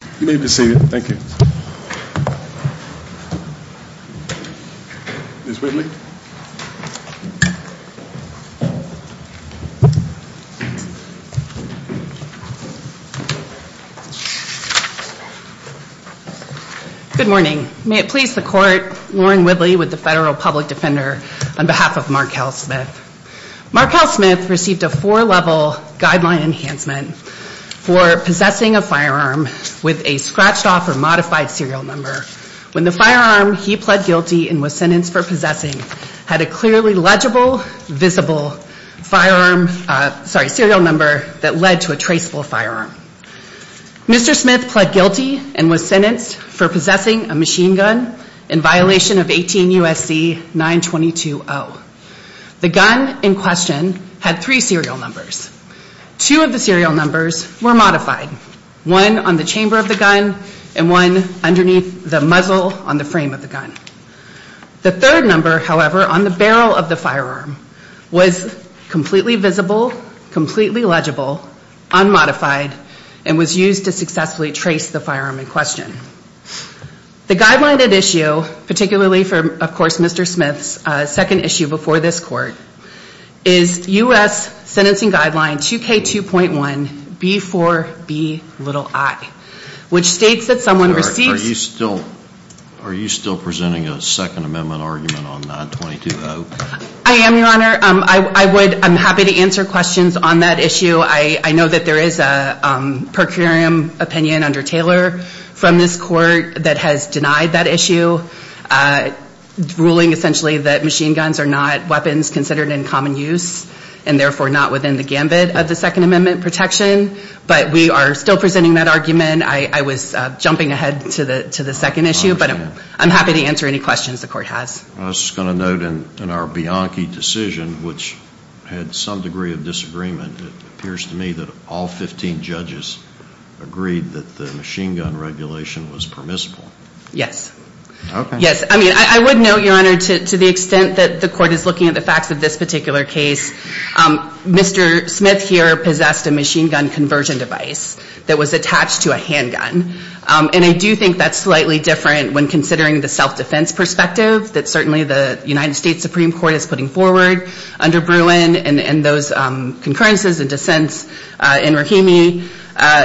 Good morning. May it please the court, Lauren Whitley with the Federal Public Defender on behalf of Markel Smith. Markel Smith received a four-level guideline enhancement for possessing a firearm with a scratched off or modified serial number when the firearm he pled guilty and was sentenced for possessing had a clearly legible, visible firearm, sorry, serial number that led to a traceable firearm. Mr. Smith pled guilty and was sentenced for possessing a machine gun in violation of 18 U.S.C. 922-0. The gun in question had three serial numbers. Two of the serial numbers were modified, one on the chamber of the gun and one underneath the muzzle on the frame of the gun. The third number, however, on the barrel of the firearm was completely visible, completely legible, unmodified, and was used to successfully trace the firearm in question. The guideline at issue, particularly for, of course, Mr. Smith's second issue before this court, is U.S. Sentencing Guideline 2K2.1B4Bi, which states that someone receives... Judge Goldberg Are you still presenting a Second Amendment argument on 922-0? Markel Smith I am, Your Honor. I would, I'm happy to answer questions on that issue. I know that there is a per curiam opinion under Taylor from this court that has denied that issue, ruling essentially that machine guns are not weapons considered in common use and therefore not within the gambit of the Second Amendment protection, but we are still presenting that argument. I was jumping ahead to the second issue, but I'm happy to answer any questions the court has. Judge Goldberg I was just going to note in our Bianchi decision, which had some degree of disagreement, it appears to me that all 15 judges agreed that machine gun regulation was permissible. Judge Goldberg Okay. Markel Smith Yes. I mean, I would note, Your Honor, to the extent that the court is looking at the facts of this particular case, Mr. Smith here possessed a machine gun conversion device that was attached to a handgun, and I do think that's slightly different when considering the self-defense perspective that certainly the United States Supreme Court is putting forward under Bruin and those concurrences and dissents in Rahimi.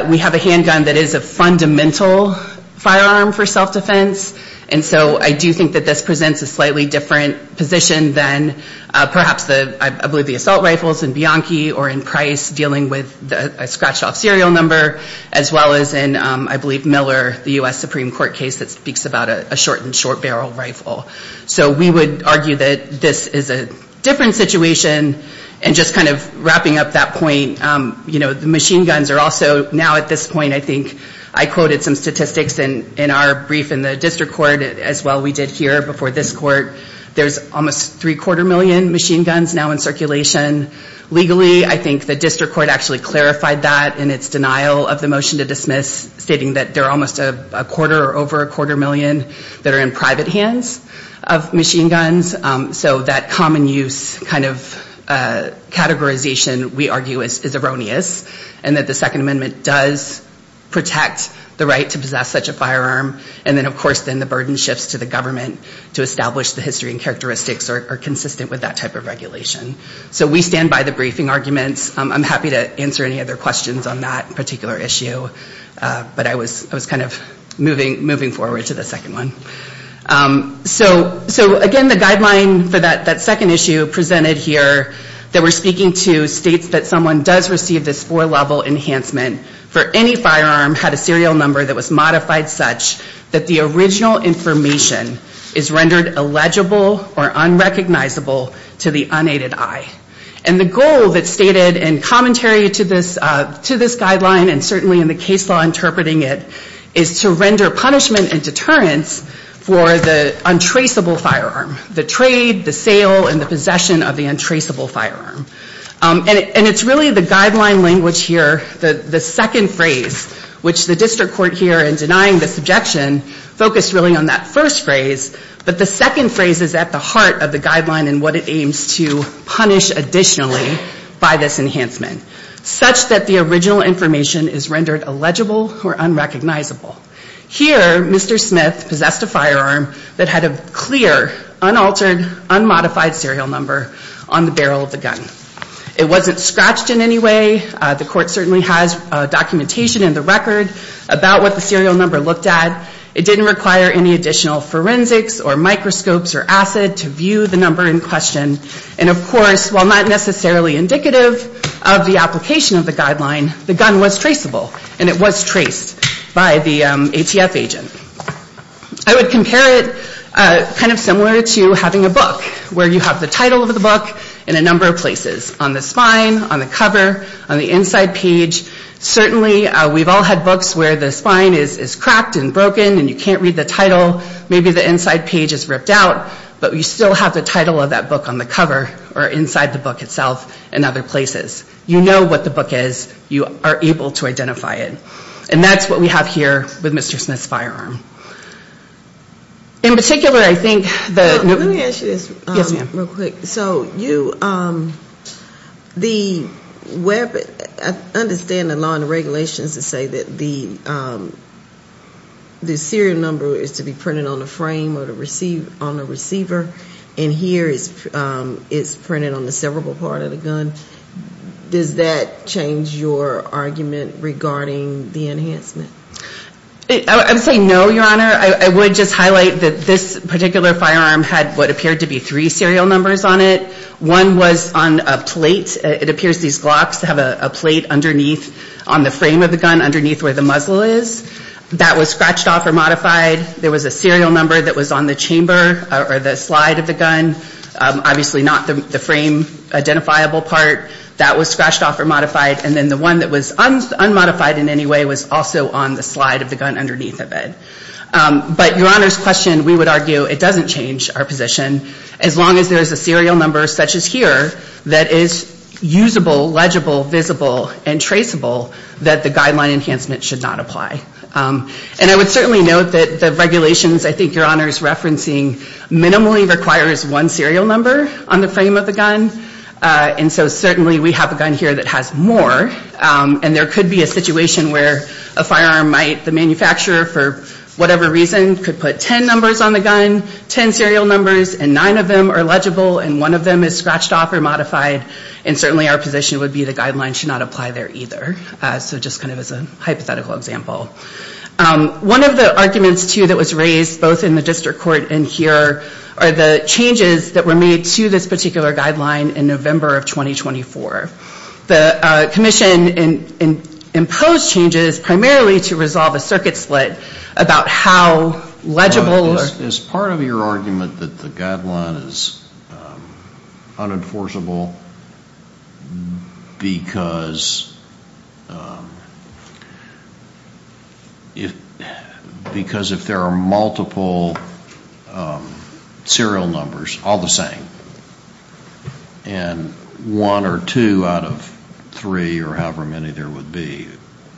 We have a handgun that is a fundamental firearm for self-defense, and so I do think that this presents a slightly different position than perhaps, I believe, the assault rifles in Bianchi or in Price dealing with a scratched off serial number, as well as in, I believe, Miller, the U.S. Supreme Court case that speaks about a shortened short barrel rifle. So we would argue that this is a different situation, and just kind of wrapping up that point, you know, the machine guns are also now at this point, I think, I quoted some statistics in our brief in the district court as well we did here before this court. There's almost three-quarter million machine guns now in circulation. Legally, I think the district court actually clarified that in its denial of the motion to dismiss, stating that there are almost a quarter or over a quarter million that are in private possession, we argue is erroneous, and that the Second Amendment does protect the right to possess such a firearm, and then, of course, then the burden shifts to the government to establish the history and characteristics are consistent with that type of regulation. So we stand by the briefing arguments. I'm happy to answer any other questions on that particular issue, but I was kind of moving forward to the second one. So again, the guideline for that second issue presented here that we're speaking to states that someone does receive this four-level enhancement for any firearm had a serial number that was modified such that the original information is rendered illegible or unrecognizable to the unaided eye. And the goal that's stated in commentary to this guideline, and certainly in the case law interpreting it, is to render punishment and deterrence for the untraceable firearm, the trade, the sale, and the possession of the untraceable firearm. And it's really the guideline language here, the second phrase, which the district court here in denying the subjection focused really on that first phrase, but the second phrase is at the heart of the guideline and what it aims to punish additionally by this enhancement, such that the original information is rendered illegible or unrecognizable. Here, Mr. Smith possessed a firearm that had a clear, unaltered, unmodified serial number on the barrel of the gun. It wasn't scratched in any way. The court certainly has documentation in the record about what the serial number looked at. It didn't require any additional forensics or microscopes or acid to view the number in question. And of course, while not necessarily indicative of the application of the guideline, the gun was traceable and it was traced by the ATF agent. I would compare it kind of similar to having a book where you have the title of the book in a number of places, on the spine, on the cover, on the inside page. Certainly we've all had books where the spine is cracked and broken and you can't read the title. Maybe the inside page is ripped out, but you still have the title of that book on the cover or inside the book itself in other places. You know what the book is. You are able to identify it. And that's what we have here with Mr. Smith's firearm. In particular, I think that... Let me ask you this real quick. So you, the web, I understand the law and regulations to say that the serial number is to be printed on the frame or on the receiver, and here it's printed on the cerebral part of the gun. Does that change your argument regarding the enhancement? I would say no, Your Honor. I would just highlight that this particular firearm had what appeared to be three serial numbers on it. One was on a plate. It appears these glocks have a plate underneath, on the frame of the gun, underneath where the muzzle is. That was scratched off or modified. There was a serial number that was on the chamber or the slide of the gun. Obviously not the frame identifiable part. That was scratched off or modified. And then the one that was unmodified in any way was also on the slide of the gun underneath of it. But Your Honor's question, we would argue, it doesn't change our position as long as there is a serial number such as here that is usable, legible, visible, and traceable that the guideline enhancement should not apply. And I would certainly note that the regulations I think Your Honor is referencing minimally requires one serial number on the frame of the gun. And so certainly we have a gun here that has more. And there could be a situation where a firearm might, the manufacturer for whatever reason, could put ten numbers on the gun, ten serial numbers, and nine of them are legible and one of them is scratched off or modified. And certainly our position would be the guideline should not apply there either. So just kind of as a hypothetical example. One of the arguments too that was raised both in the district court and here are the changes that were made to this particular guideline in November of 2024. The commission imposed changes primarily to resolve a circuit split about how legible or... Is part of your argument that the guideline is unenforceable because if there are multiple serial numbers, all the same, and one or two out of three or however many there would be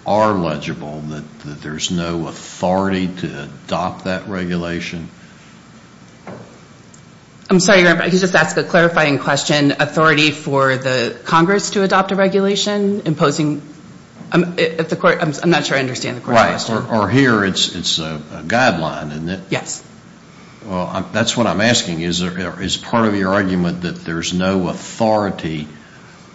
are legible, that there is no authority to adopt that regulation? I'm sorry, Your Honor, but I could just ask a clarifying question. Authority for the Congress to adopt a regulation imposing... I'm not sure I understand the question. Or here it's a guideline, isn't it? Yes. That's what I'm asking. Is part of your argument that there's no authority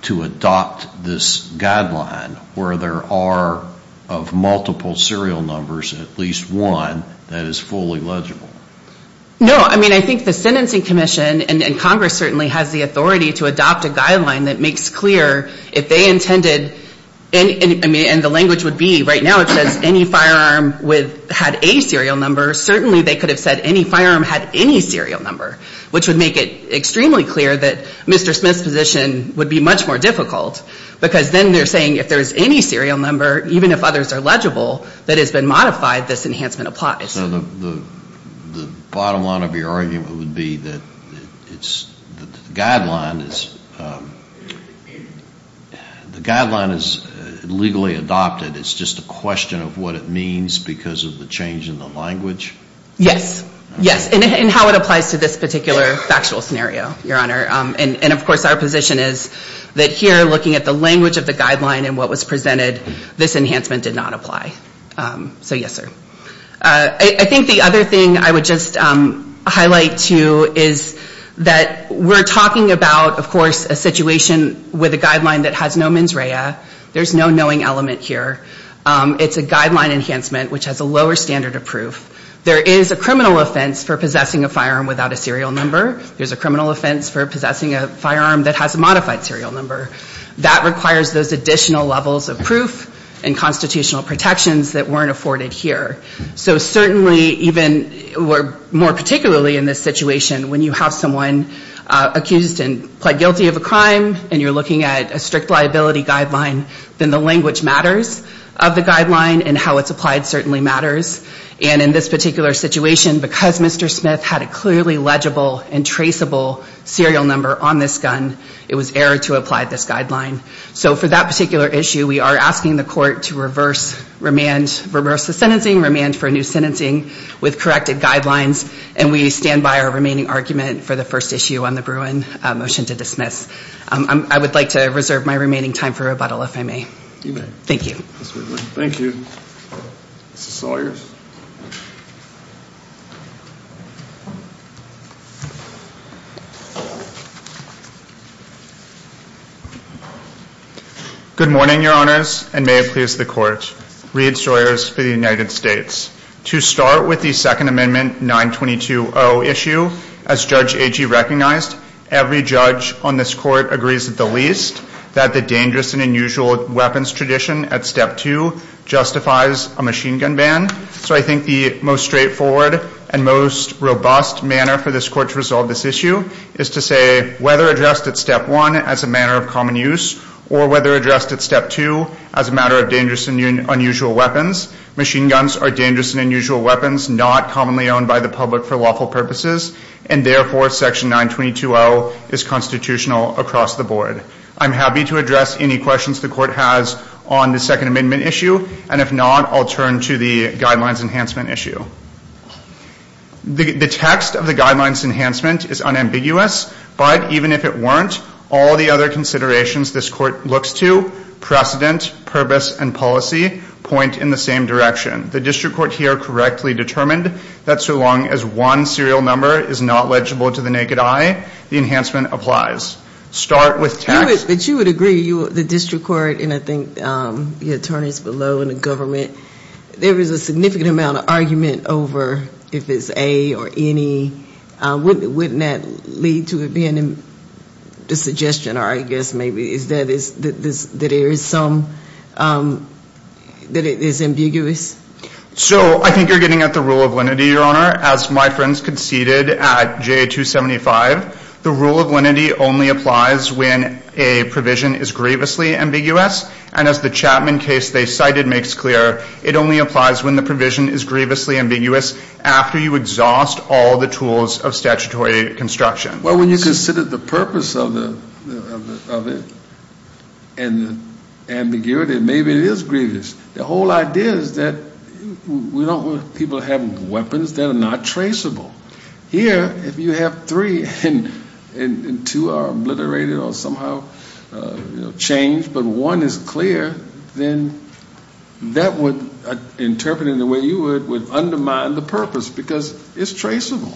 to adopt this guideline where there are, of multiple serial numbers, at least one that is fully legible? No. I mean, I think the Sentencing Commission and Congress certainly has the authority to adopt a guideline that makes clear if they intended, and the language would be right now it says any firearm had a serial number, certainly they could have said any firearm had any serial number, which would make it extremely clear that Mr. Smith's position would be much more difficult. Because then they're saying if there's any serial number, even if others are legible, that has been modified, this enhancement applies. The bottom line of your argument would be that the guideline is legally adopted. It's just a question of what it means because of the change in the language? Yes. Yes. And how it applies to this particular factual scenario, Your Honor. And of course our position is that here, looking at the language of the guideline and what was presented, this enhancement did not apply. So yes, sir. I think the other thing I would just highlight, too, is that we're talking about, of course, a situation with a guideline that has no mens rea. There's no knowing element here. It's a guideline enhancement, which has a lower standard of proof. There is a criminal offense for possessing a firearm without a serial number. There's a criminal offense for possessing a firearm that has a modified serial number. That requires those additional levels of proof and constitutional protections that weren't afforded here. So certainly, even more particularly in this situation, when you have someone accused and pled guilty of a crime and you're looking at a strict liability guideline, then the language matters of the guideline and how it's applied certainly matters. And in this particular situation, because Mr. Smith had a clearly legible and traceable serial number on this gun, it was error to apply this guideline. So for that particular issue, we are asking the court to reverse the sentencing, remand for a new sentencing with corrected guidelines, and we stand by our remaining argument for the first issue on the Bruin. Motion to dismiss. I would like to reserve my remaining time for rebuttal, if I may. Thank you. Thank you. Mr. Sawyers. Good morning, your honors, and may it please the court. Reed Sawyers for the United States. To start with the Second Amendment 922.0 issue, as Judge Agee recognized, every judge on this court agrees at the least that the dangerous and unusual weapons tradition at Step 2 justifies a machine gun ban. So I think the most straightforward and most robust manner for this court to resolve this issue is to say whether addressed at Step 1 as a manner of common use or whether addressed at Step 2 as a matter of dangerous and unusual weapons, machine guns are dangerous and unusual weapons not commonly owned by the public for lawful purposes, and therefore Section 922.0 is constitutional across the board. I'm happy to address any questions the court has on the Second Amendment issue, and if not, I'll turn to the Guidelines Enhancement issue. The text of the Guidelines Enhancement is unambiguous, but even if it weren't, all the other considerations this court looks to, precedent, purpose, and policy, point in the same direction. The district court here correctly determined that so long as one serial number is not legible to the naked eye, the enhancement applies. Start with text that you would agree the district court, and I think the attorneys below and the government, there is a significant amount of argument over if it's a or any. Wouldn't that lead to it being a suggestion, or I guess maybe that there is some, that it is ambiguous? So I think you're getting at the rule of lenity, Your Honor. As my friends conceded at J275, the rule of lenity only applies when a provision is grievously ambiguous, and as the Chapman case they cited makes clear, it only applies when the provision is grievously ambiguous after you exhaust all the tools of statutory construction. Well, when you consider the purpose of it, and ambiguity, maybe it is grievous. The whole idea is that we don't want people having weapons that are not traceable. Here, if you have three and two are obliterated or somehow changed, but one is clear, then that would, interpreting the way you would, would undermine the purpose because it's traceable.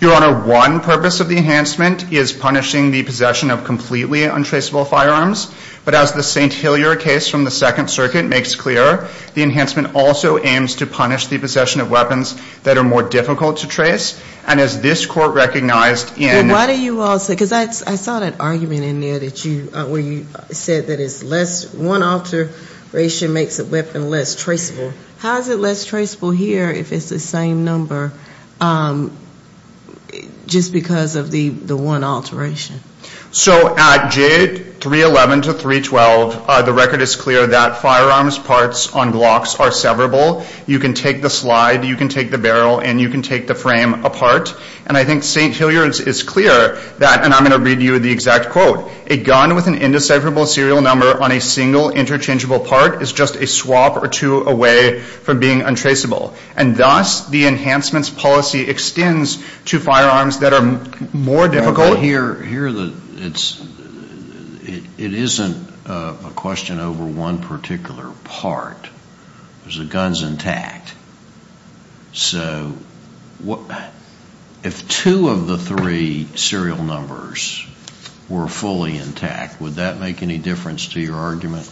Your Honor, one purpose of the enhancement is punishing the possession of completely untraceable firearms, but as the St. Hillier case from the Second Circuit makes clear, the enhancement also aims to punish the possession of weapons that are more difficult to trace, and as this Court recognized in... Well, why do you all say, because I saw that argument in there that you, where you said that it's less, one alteration makes a weapon less traceable. How is it less traceable here if it's the same number, just because of the one alteration? So at J311 to 312, the record is clear that firearms parts on Glocks are severable. You can take the slide, you can take the barrel, and you can take the frame apart, and I think St. Hillier is clear that, and I'm going to read you the exact quote, a gun with an indecipherable serial number on a single interchangeable part is just a swap or two away from being untraceable, and thus, the enhancements policy extends to firearms that are more difficult. Well, here, it isn't a question over one particular part. There's a guns intact. So, if two of the three serial numbers were fully intact, would that make any difference to your argument?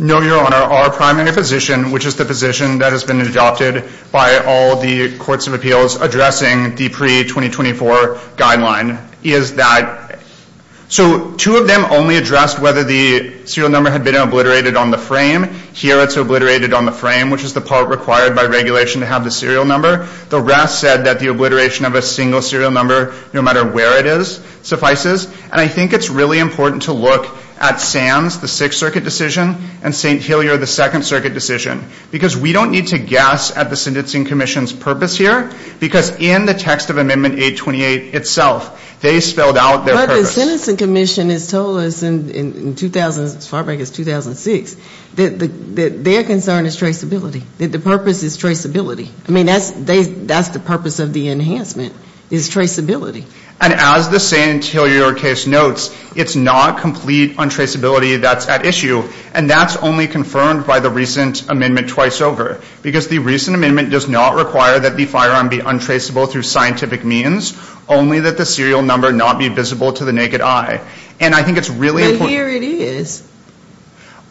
No, Your Honor. Our primary position, which is the position that has been adopted by all the courts of appeals addressing the pre-2024 guideline, is that, so two of them only addressed whether the serial number had been obliterated on the frame. Here, it's obliterated on the frame, which is the part required by regulation to have the serial number. The rest said that the obliteration of a single serial number, no matter where it is, suffices, and I think it's really important to look at Sam's, the Sixth Circuit decision, and St. Hillier, the Second Circuit decision, because we don't need to guess at the Sentencing Commission's purpose here, because in the text of Amendment 828 itself, they spelled out their purpose. But the Sentencing Commission has told us in 2000, as far back as 2006, that their concern is traceability, that the purpose is traceability. I mean, that's the purpose of the enhancement, is traceability. And as the St. Hillier case notes, it's not complete untraceability that's at issue, and that's only confirmed by the recent amendment twice over, because the recent amendment does not require that the firearm be untraceable through scientific means, only that the serial number not be visible to the naked eye. And I think it's really important. But here it is.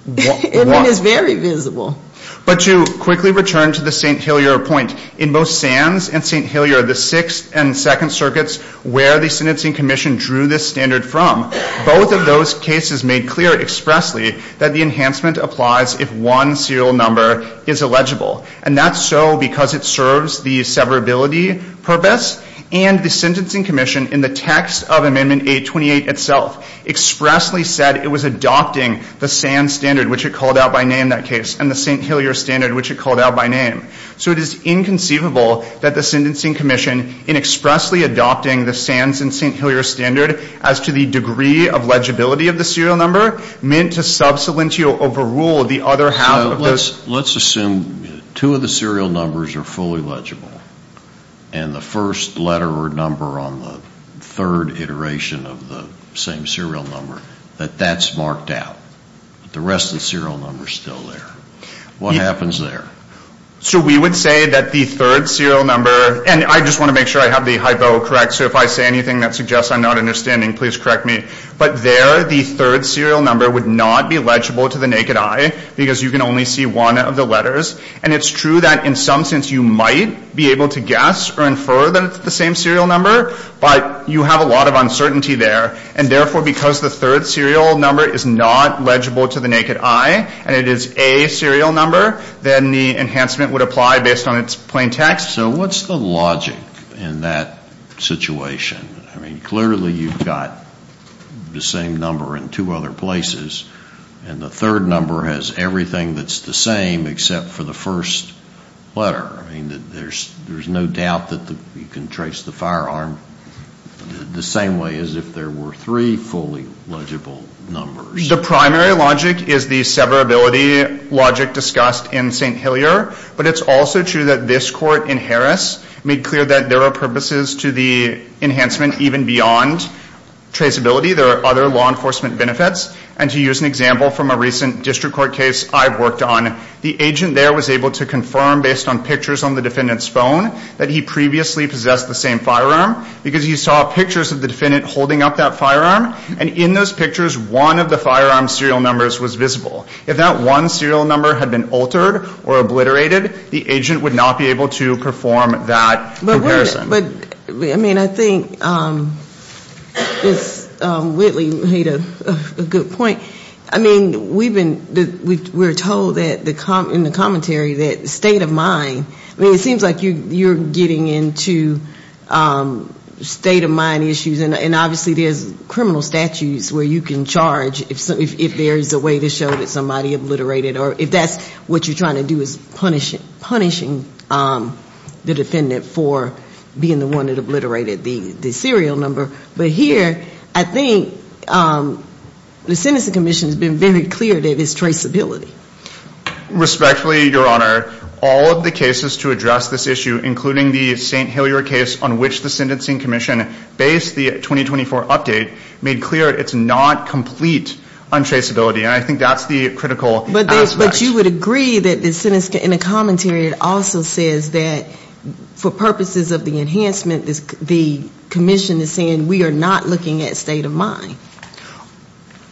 It is very visible. But to quickly return to the St. Hillier point, in both Sam's and St. Hillier, the Sixth and Second Circuits, where the Sentencing Commission drew this standard from, both of those cases made clear expressly that the enhancement applies if one serial number is illegible. And that's so because it serves the severability purpose, and the Sentencing Commission, in the text of Amendment 828 itself, expressly said it was adopting the Sam standard, which it called out by name, that case, and the St. Hillier standard, which it called out by name. So it is inconceivable that the Sentencing Commission, in expressly adopting the Sam and St. Hillier standard, as to the degree of legibility of the serial number, meant to sub salientio overrule the other half of those. Let's assume two of the serial numbers are fully legible, and the first letter or number on the third iteration of the same serial number, that that's marked out. But the rest of the serial number is still there. What happens there? So we would say that the third serial number, and I just want to make sure I have the hypo correct, so if I say anything that suggests I'm not understanding, please correct me. But there, the third serial number would not be legible to the naked eye, because you can only see one of the letters. And it's true that in some sense you might be able to guess or infer that it's the same serial number, but you have a lot of uncertainty there. And therefore, because the third serial number is not legible to the naked eye, and it is a serial number, then the enhancement would apply based on its plain text. So what's the logic in that situation? I mean, clearly you've got the same number in two other places, and the third number has everything that's the same except for the first letter. I mean, there's no doubt that you can trace the firearm the same way as if there were three fully legible numbers. The primary logic is the severability logic discussed in St. Hillyer, but it's also true that this court in Harris made clear that there are purposes to the enhancement even beyond traceability. There are other law enforcement benefits. And to use an example from a recent district court case I've worked on, the agent there was able to confirm based on pictures on the defendant's phone that he previously possessed the same firearm, because he saw pictures of the defendant holding up that firearm. And in those pictures, one of the firearm serial numbers was visible. If that one serial number had been altered or obliterated, the agent would not be able to perform that comparison. But, I mean, I think Ms. Whitley made a good point. I mean, we've been, we were told in the commentary that state of mind, I mean, it seems like you're getting into state of mind issues, and obviously there's criminal statutes where you can charge if there is a way to show that somebody obliterated, or if that's what you're trying to do is punishing the defendant for being the one that obliterated the serial number. But here, I think the Sentencing Commission has been very clear that it's traceability. Respectfully, Your Honor, all of the cases to address this issue, including the St. Hillyer case on which the Sentencing Commission based the 2024 update, made clear it's not complete untraceability. And I think that's the critical aspect. But you would agree that the sentence, in the commentary, it also says that for purposes of the enhancement, the commission is saying we are not looking at state of mind.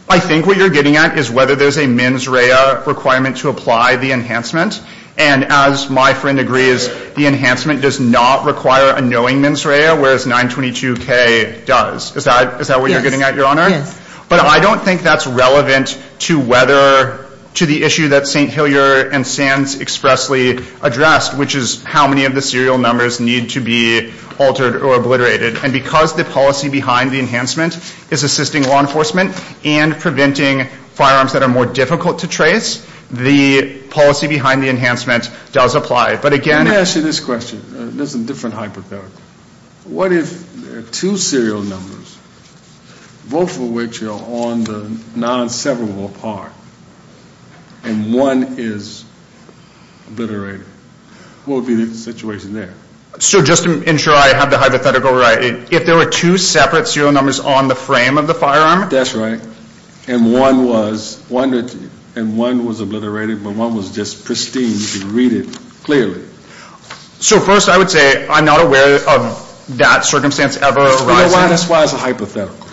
I think what you're getting at is whether there's a mens rea requirement to apply the enhancement. And as my friend agrees, the enhancement does not require a knowing mens rea, whereas 922K does. Is that what you're getting at, Your Honor? Yes. But I don't think that's relevant to whether, to the issue that St. Hillyer and Sands expressly addressed, which is how many of the serial numbers need to be altered or obliterated. And because the policy behind the enhancement is assisting law enforcement and preventing firearms that are more difficult to trace, the policy behind the enhancement does apply. But again- Let me ask you this question. There's a different hyperparameter. What if there are two serial numbers, both of which are on the non-severable part, and one is obliterated? What would be the situation there? So just to ensure I have the hypothetical right, if there were two separate serial numbers on the frame of the firearm- That's right. And one was obliterated, but one was just pristine. You can read it clearly. So first I would say I'm not aware of that circumstance ever arising. So that's why it's a hypothetical.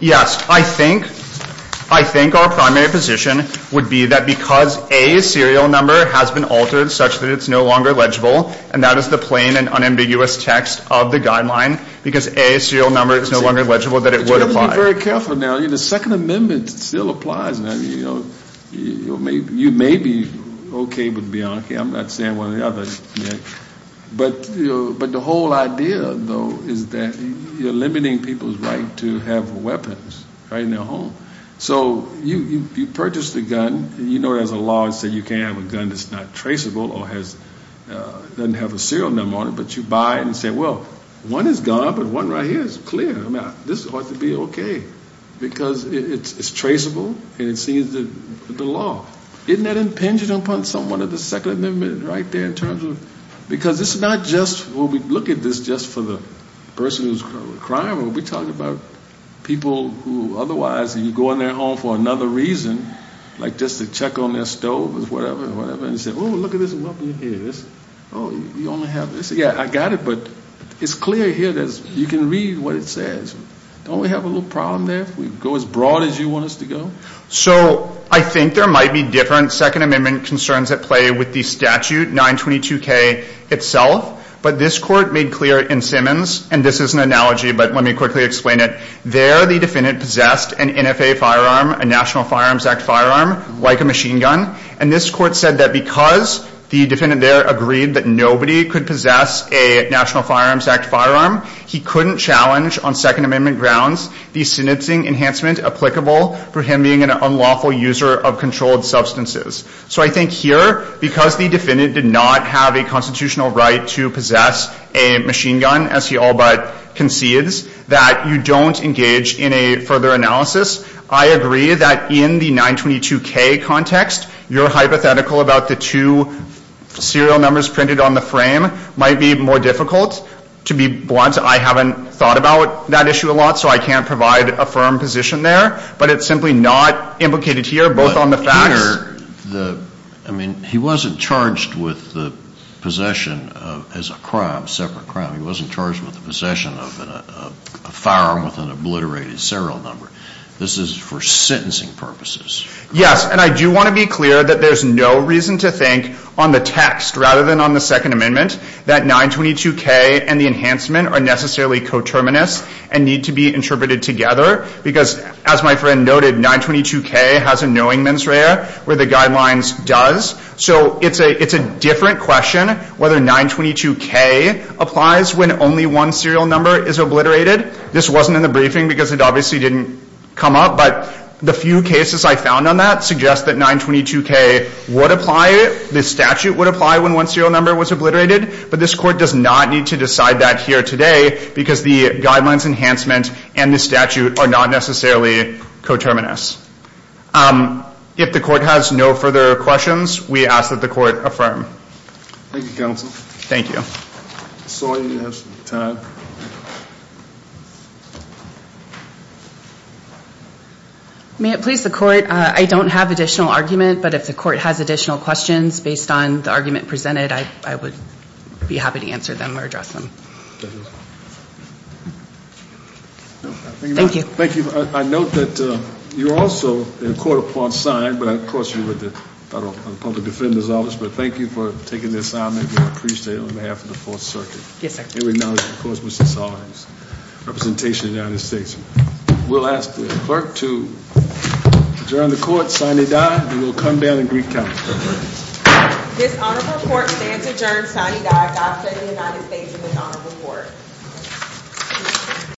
Yes. I think our primary position would be that because a serial number has been altered such that it's no longer legible, and that is the plain and unambiguous text of the guideline, because a serial number is no longer legible, that it would apply. But you have to be very careful now. The Second Amendment still applies. You may be okay with that. I'm not saying one or the other. But the whole idea, though, is that you're limiting people's right to have weapons right in their home. So you purchase the gun. You know there's a law that says you can't have a gun that's not traceable or doesn't have a serial number on it, but you buy it and say, well, one is gone, but one right here is clear. This ought to be okay, because it's traceable and it sees the law. Isn't that impinging upon someone of the Second Amendment right there in terms of, because it's not just, we'll look at this just for the person who's a criminal. We're talking about people who otherwise you go in their home for another reason, like just to check on their stove or whatever, and say, oh, look at this weapon here. Oh, you only have this. Yeah, I got it, but it's clear here that you can read what it says. Don't we have a little problem there if we go as broad as you want us to go? So I think there might be different Second Amendment concerns at play with the statute 922K itself, but this court made clear in Simmons, and this is an analogy, but let me quickly explain it. There the defendant possessed an NFA firearm, a National Firearms Act firearm, like a machine gun, and this court said that because the defendant there agreed that nobody could possess a National Firearms Act firearm, he couldn't challenge on Second Amendment grounds the sentencing enhancement applicable for him being an unlawful user of controlled substances. So I think here, because the defendant did not have a constitutional right to possess a machine gun, as he all but concedes, that you don't engage in a further analysis. I agree that in the 922K context, your hypothetical about the two serial numbers printed on the not, so I can't provide a firm position there, but it's simply not implicated here, both on the facts. But, Peter, the, I mean, he wasn't charged with the possession of, as a crime, separate crime, he wasn't charged with the possession of a firearm with an obliterated serial number. This is for sentencing purposes. Yes, and I do want to be clear that there's no reason to think on the text, rather than on the Second Amendment, that 922K and the enhancement are necessarily coterminous and need to be interpreted together, because, as my friend noted, 922K has a knowing mens rea where the guidelines does. So it's a different question whether 922K applies when only one serial number is obliterated. This wasn't in the briefing, because it obviously didn't come up, but the few cases I found on that suggest that 922K would apply, the statute would apply when one serial number was obliterated, but this Court does not need to decide that here today, because the guidelines enhancement and the statute are not necessarily coterminous. If the Court has no further questions, we ask that the Court affirm. Thank you, Counsel. Thank you. Ms. Sawyer, you have some time. May it please the Court, I don't have additional argument, but if the Court has additional questions based on the argument presented, I would be happy to answer them or address them. Thank you. Thank you. I note that you're also in court upon sign, but of course you're with the Public Defender's Office, but thank you for taking the assignment. We appreciate it on behalf of the Fourth Circuit. Yes, sir. And we acknowledge, of course, Ms. Sawyer's representation in the United States. We'll ask the Clerk to adjourn the Court. Signee Dye, you will come down and recount. This Honorable Court stands adjourned. Signee Dye, doctor of the United States and this Honorable Court.